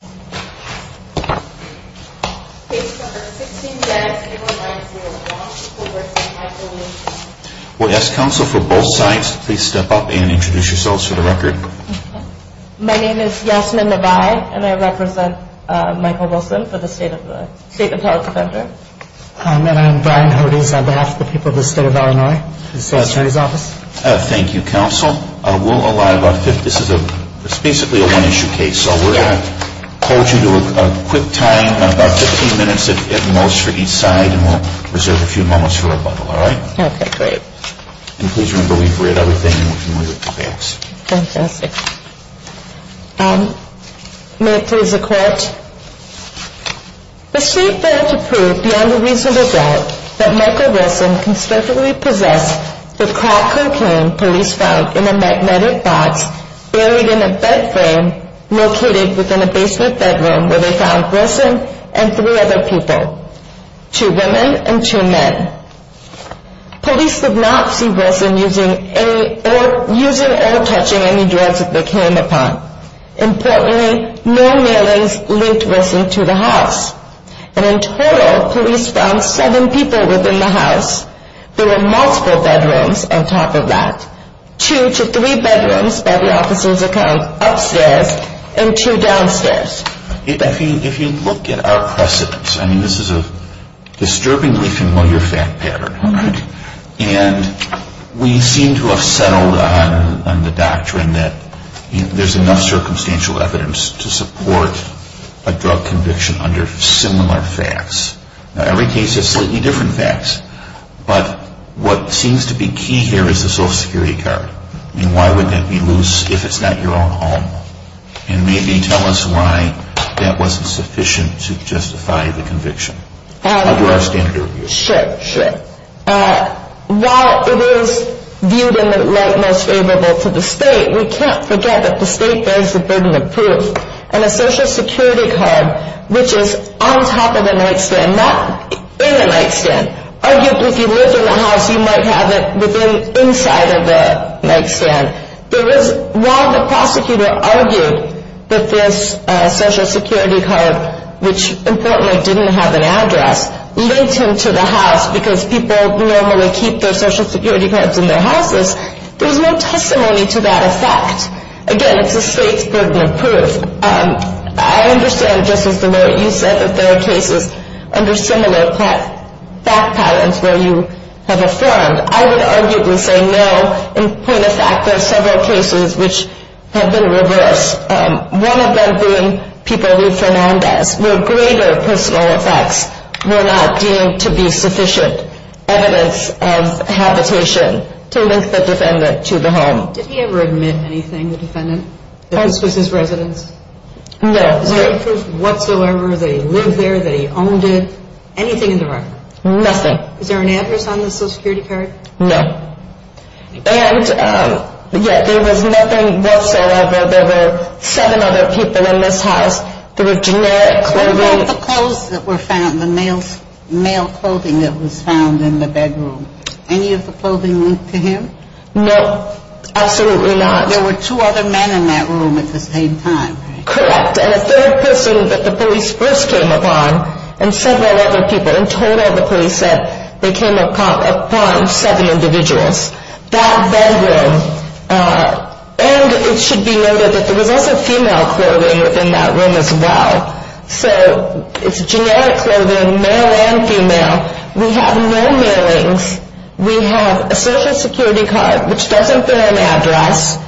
on behalf of the people of the state of Illinois. This is the attorney's office. The state failed to prove beyond a reasonable doubt that Michael Wilson conspicuously possessed the crack cocaine police found in a magnetic box buried in a bed frame located within a basement bedroom where they found Wilson and three other people, two women and two men. Police did not see Wilson using or touching any drugs that they came upon. Importantly, no mailings linked Wilson to the house. And in total, police found seven people within the house. There were multiple bedrooms on top of that. Two to three bedrooms upstairs and two downstairs. If you look at our precedents, this is a disturbingly familiar fact pattern. And we seem to have settled on the doctrine that there's enough circumstantial evidence to support a drug conviction under similar facts. Every case is slightly different facts. But what seems to be key here is the Social Security card. And why would that be loose if it's not your own home? And maybe tell us why that wasn't sufficient to justify the conviction under our standard of use. Sure, sure. While it is viewed in the light most favorable to the state, we can't forget that the state bears the burden of proof. And a Social Security card, which is on top of a nightstand, not in a nightstand. Arguably, if you lived in the house, you might have it inside of the nightstand. While the prosecutor argued that this Social Security card, which importantly didn't have an address, linked him to the house because people normally keep their Social Security cards in their houses, there's no testimony to that effect. Again, it's the state's burden of proof. I understand just as the way you said that there are cases under similar fact patterns where you have affirmed. I would arguably say no. In point of fact, there are several cases which have been reversed. One of them being people who Fernandez, where greater personal effects were not deemed to be sufficient evidence of habitation to link the defendant to the home. Did he ever admit anything, the defendant, that this was his residence? No. Is there any proof whatsoever that he lived there, that he owned it? Anything in the record? Nothing. Is there an address on the Social Security card? No. And yet there was nothing whatsoever. There were seven other people in this house. There was generic clothing. What about the clothes that were found, the male clothing that was found in the bedroom? Any of the clothing linked to him? No, absolutely not. There were two other men in that room at the same time, right? Correct. And a third person that the police first came upon and several other people. In total, the police said they came upon seven individuals. That bedroom. And it should be noted that there was also female clothing within that room as well. So it's generic clothing, male and female. We have no mailings. We have a Social Security card, which doesn't bear an address.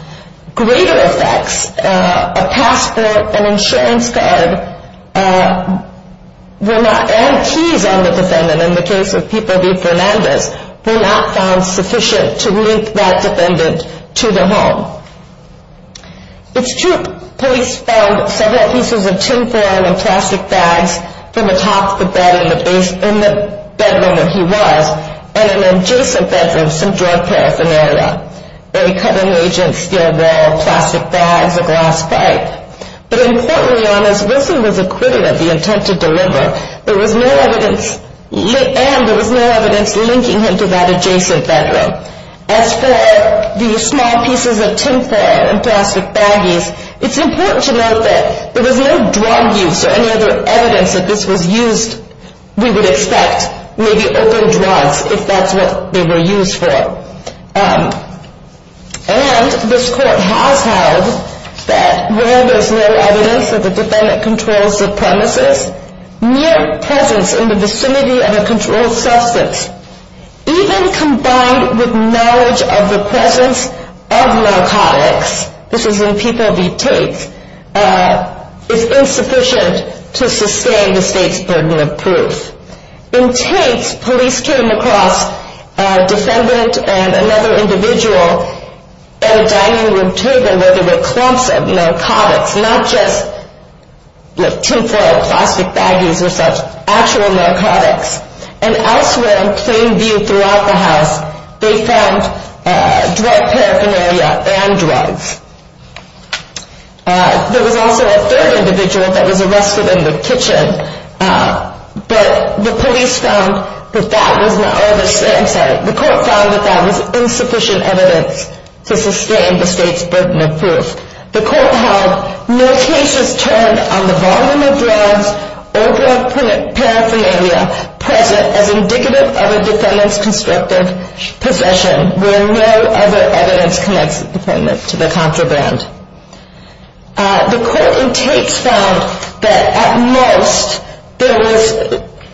Greater effects, a passport, an insurance card, and keys on the defendant, in the case of people named Fernandez, were not found sufficient to link that defendant to the home. It's true, police found several pieces of tin foil and plastic bags from the top of the bed in the bedroom that he was, and an adjacent bedroom, some drug paraphernalia. They cut an agent's steel wall, plastic bags, a glass pipe. But importantly, as Wilson was acquitted of the intent to deliver, there was no evidence linking him to that adjacent bedroom. As for the small pieces of tin foil and plastic baggies, it's important to note that there was no drug use or any other evidence that this was used. We would expect maybe open drugs, if that's what they were used for. And this court has held that where there's no evidence that the defendant controls the premises, mere presence in the vicinity of a controlled substance, even combined with knowledge of the presence of narcotics, this is in People v. Tate, is insufficient to sustain the state's burden of proof. In Tate's, police came across a defendant and another individual at a dining room table where there were clumps of narcotics, not just tin foil, plastic baggies or such, actual narcotics. And elsewhere in plain view throughout the house, they found drug paraphernalia and drugs. There was also a third individual that was arrested in the kitchen, but the police found that that was not, I'm sorry, the court found that that was insufficient evidence to sustain the state's burden of proof. The court held no cases turned on the volume of drugs or drug paraphernalia present as indicative of a defendant's constrictive possession, where no other evidence connects the defendant to the contraband. The court in Tate's found that at most there was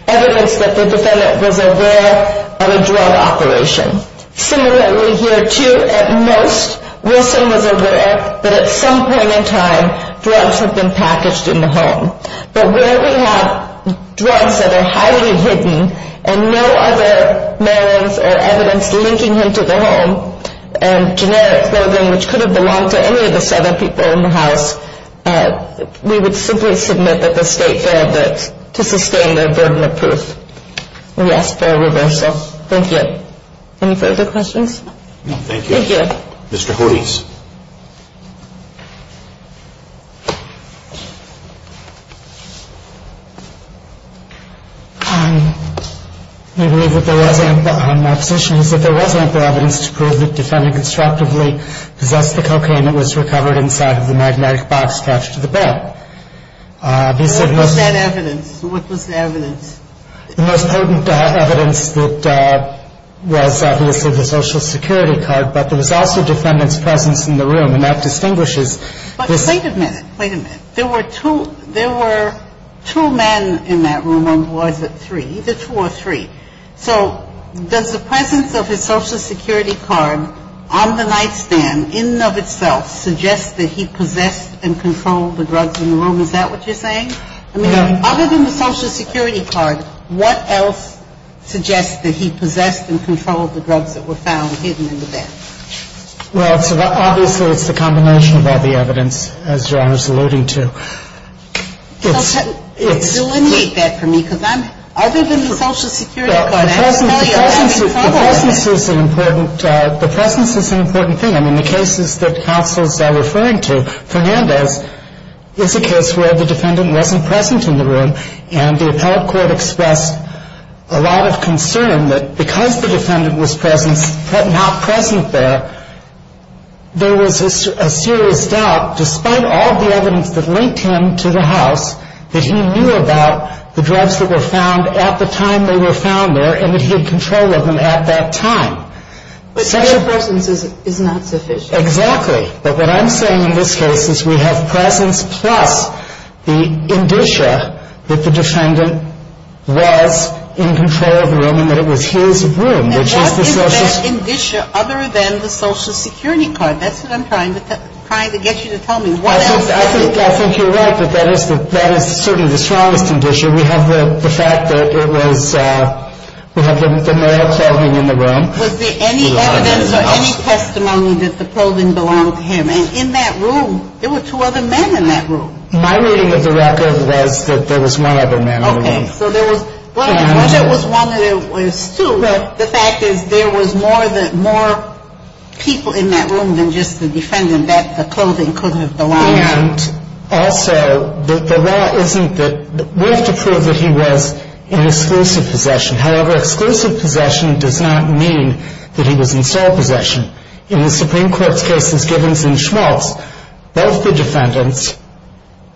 evidence that the defendant was aware of a drug operation. Similarly, here too, at most, Wilson was aware that at some point in time drugs had been packaged in the home. But where we have drugs that are highly hidden and no other mailings or evidence linking him to the home, and generic clothing which could have belonged to any of the seven people in the house, we would simply submit that the state failed to sustain their burden of proof. We ask for a reversal. Thank you. Any further questions? No, thank you. Thank you. Mr. Hodes. I believe that there was ample, my position is that there was ample evidence to prove that the defendant constructively possessed the cocaine that was recovered inside of the magnetic box attached to the bed. What was that evidence? The most potent evidence that was obviously the Social Security card, but there was also defendant's presence in the room, and that distinguishes this. But wait a minute. Wait a minute. There were two men in that room, or was it three? Either two or three. So does the presence of his Social Security card on the nightstand in and of itself suggest that he possessed and controlled the drugs in the room? Is that what you're saying? I mean, other than the Social Security card, what else suggests that he possessed and controlled the drugs that were found hidden in the bed? Well, obviously it's the combination of all the evidence, as Your Honor is alluding to. So delineate that for me, because other than the Social Security card, I have to tell you I'm having trouble. The presence is an important thing. I mean, the cases that counsels are referring to, is a case where the defendant wasn't present in the room, and the appellate court expressed a lot of concern that because the defendant was not present there, there was a serious doubt, despite all the evidence that linked him to the house, that he knew about the drugs that were found at the time they were found there and that he had control of them at that time. But such a presence is not sufficient. Exactly. But what I'm saying in this case is we have presence plus the indicia that the defendant was in control of the room and that it was his room, which is the Social Security. And what is that indicia other than the Social Security card? That's what I'm trying to get you to tell me. I think you're right, but that is certainly the strongest indicia. We have the fact that it was the male clothing in the room. Was there any evidence or any testimony that the clothing belonged to him? And in that room, there were two other men in that room. My reading of the record was that there was one other man in the room. Okay. So there was one that was one and there was two. Right. The fact is there was more people in that room than just the defendant that the clothing could have belonged to. And also, the law isn't that we have to prove that he was in exclusive possession. However, exclusive possession does not mean that he was in sole possession. In the Supreme Court's cases, Gibbons and Schmaltz, both the defendants,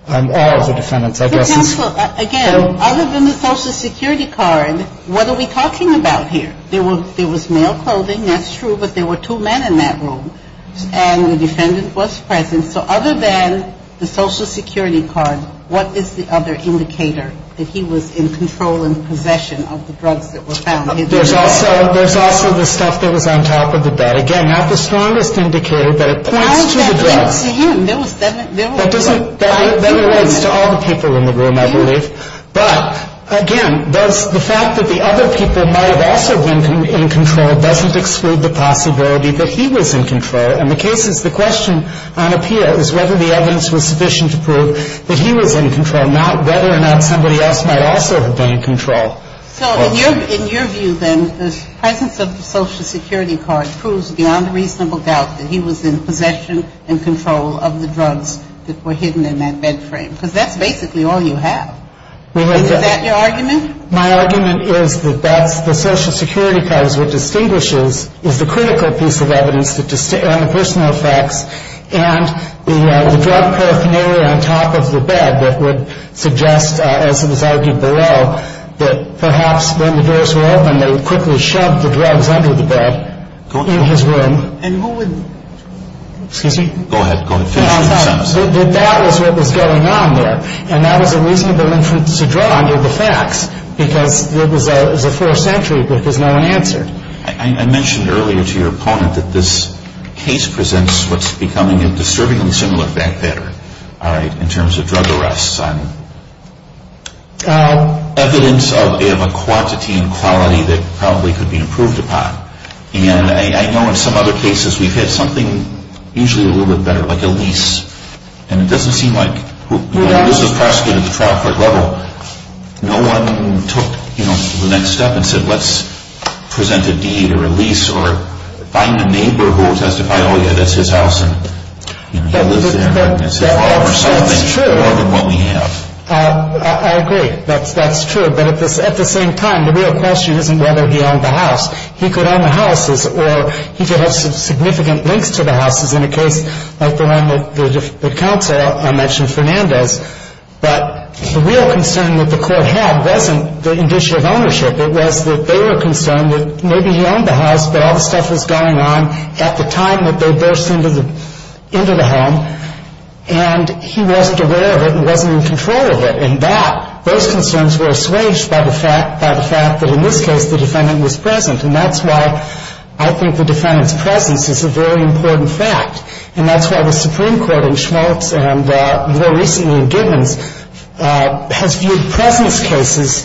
all of the defendants, I guess. For example, again, other than the Social Security card, what are we talking about here? There was male clothing, that's true, but there were two men in that room. And the defendant was present. And so other than the Social Security card, what is the other indicator that he was in control and possession of the drugs that were found? There's also the stuff that was on top of the bed. Again, not the strongest indicator, but it points to the drugs. Why was that linked to him? That doesn't, that relates to all the people in the room, I believe. But, again, the fact that the other people might have also been in control doesn't exclude the possibility that he was in control. And the case is, the question on appeal is whether the evidence was sufficient to prove that he was in control, not whether or not somebody else might also have been in control. So in your view, then, the presence of the Social Security card proves beyond a reasonable doubt that he was in possession and control of the drugs that were hidden in that bed frame, because that's basically all you have. Is that your argument? My argument is that that's the Social Security card is what distinguishes, is the critical piece of evidence on the personal effects and the drug paraphernalia on top of the bed that would suggest, as it was argued below, that perhaps when the doors were opened, they quickly shoved the drugs under the bed in his room. And who would, excuse me? Go ahead, go ahead. That was what was going on there, and that was a reasonable inference to draw under the facts, because it was a forced entry, but there's no answer. I mentioned earlier to your opponent that this case presents what's becoming a disturbingly similar fact pattern in terms of drug arrests on evidence of a quantity and quality that probably could be improved upon. And I know in some other cases we've had something usually a little bit better, like a lease, and it doesn't seem like this was prosecuted at the trial court level. No one took the next step and said, let's present a deed or a lease or find a neighbor who will testify, oh, yeah, that's his house, and he lives there. That's true. And so far we're solving more than what we have. I agree. That's true. But at the same time, the real question isn't whether he owned the house. He could own the houses, or he could have significant links to the houses in a case like the one that counsel mentioned, Fernandez. But the real concern that the court had wasn't the issue of ownership. It was that they were concerned that maybe he owned the house, but all the stuff was going on at the time that they burst into the home, and he wasn't aware of it and wasn't in control of it. And those concerns were assuaged by the fact that in this case the defendant was present, and that's why I think the defendant's presence is a very important fact. And that's why the Supreme Court in Schmultz and more recently in Gibbons has viewed presence cases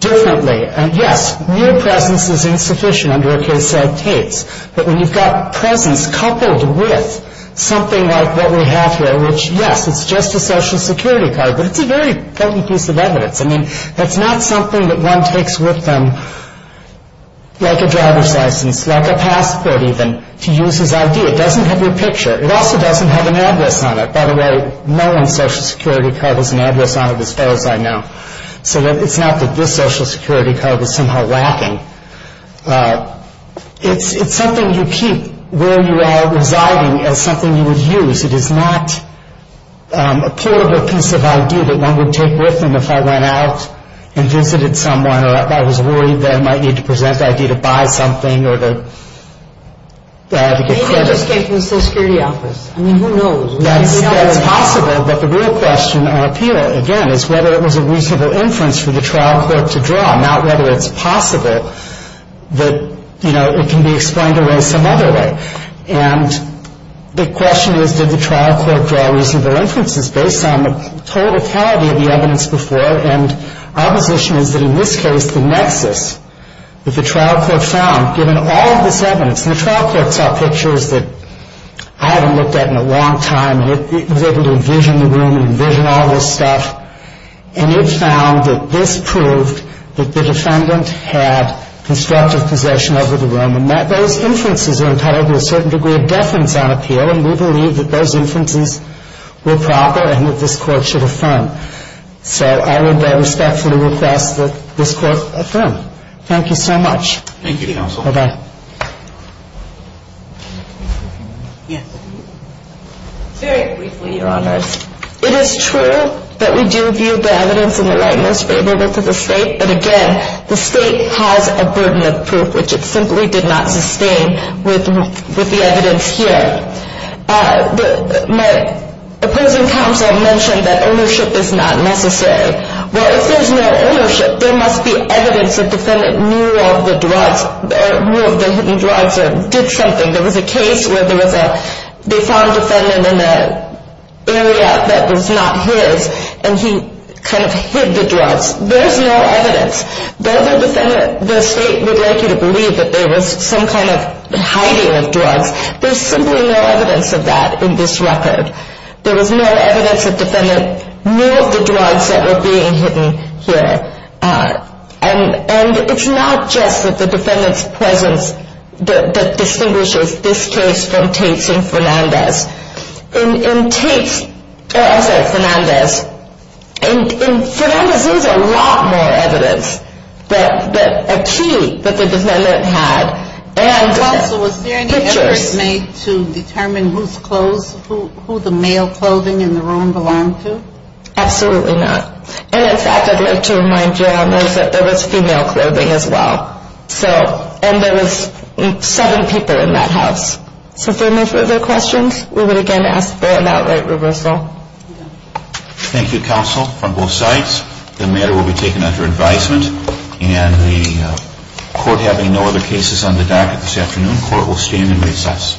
differently. And, yes, real presence is insufficient under a case like Tate's, but when you've got presence coupled with something like what we have here, which, yes, it's just a Social Security card, but it's a very important piece of evidence. I mean, that's not something that one takes with them like a driver's license, like a passport even, to use as ID. It doesn't have your picture. It also doesn't have an address on it. By the way, no one's Social Security card has an address on it as far as I know. So it's not that this Social Security card was somehow lacking. It's something you keep where you are residing as something you would use. It is not a portable piece of ID that one would take with them if I went out and visited someone or I was worried that I might need to present the ID to buy something or to get credit. Maybe it just came from the Social Security office. I mean, who knows? That's possible, but the real question on appeal, again, is whether it was a reasonable inference for the trial court to draw, not whether it's possible that, you know, it can be explained away some other way. And the question is, did the trial court draw reasonable inferences based on the totality of the evidence before? And our position is that in this case, the nexus that the trial court found, given all of this evidence, and the trial court saw pictures that I hadn't looked at in a long time, and it was able to envision the room and envision all this stuff, and it found that this proved that the defendant had constructive possession over the room. And those inferences are entitled to a certain degree of deference on appeal, and we believe that those inferences were proper and that this court should affirm. So I would respectfully request that this court affirm. Thank you so much. Thank you, Counsel. Bye-bye. Yes. Very briefly, Your Honors. It is true that we do view the evidence in the right most favorable to the State, but again, the State has a burden of proof, which it simply did not sustain with the evidence here. My opposing counsel mentioned that ownership is not necessary. Well, if there's no ownership, there must be evidence that the defendant knew of the drugs, knew of the hidden drugs or did something. There was a case where they found a defendant in an area that was not his, and he kind of hid the drugs. There's no evidence. The other defendant, the State would like you to believe that there was some kind of hiding of drugs. There's simply no evidence of that in this record. There was no evidence that the defendant knew of the drugs that were being hidden here. And it's not just that the defendant's presence that distinguishes this case from Tate's and Fernandez's. In Tate's or, I'm sorry, Fernandez's, in Fernandez's there was a lot more evidence, a key that the defendant had and pictures. Counsel, was there any effort made to determine whose clothes, who the male clothing in the room belonged to? Absolutely not. And in fact, I'd like to remind you that there was female clothing as well. So, and there was seven people in that house. So if there are no further questions, we would again ask for an outright reversal. Thank you, counsel, from both sides. The matter will be taken under advisement. And the court having no other cases on the docket this afternoon, court will stand in recess.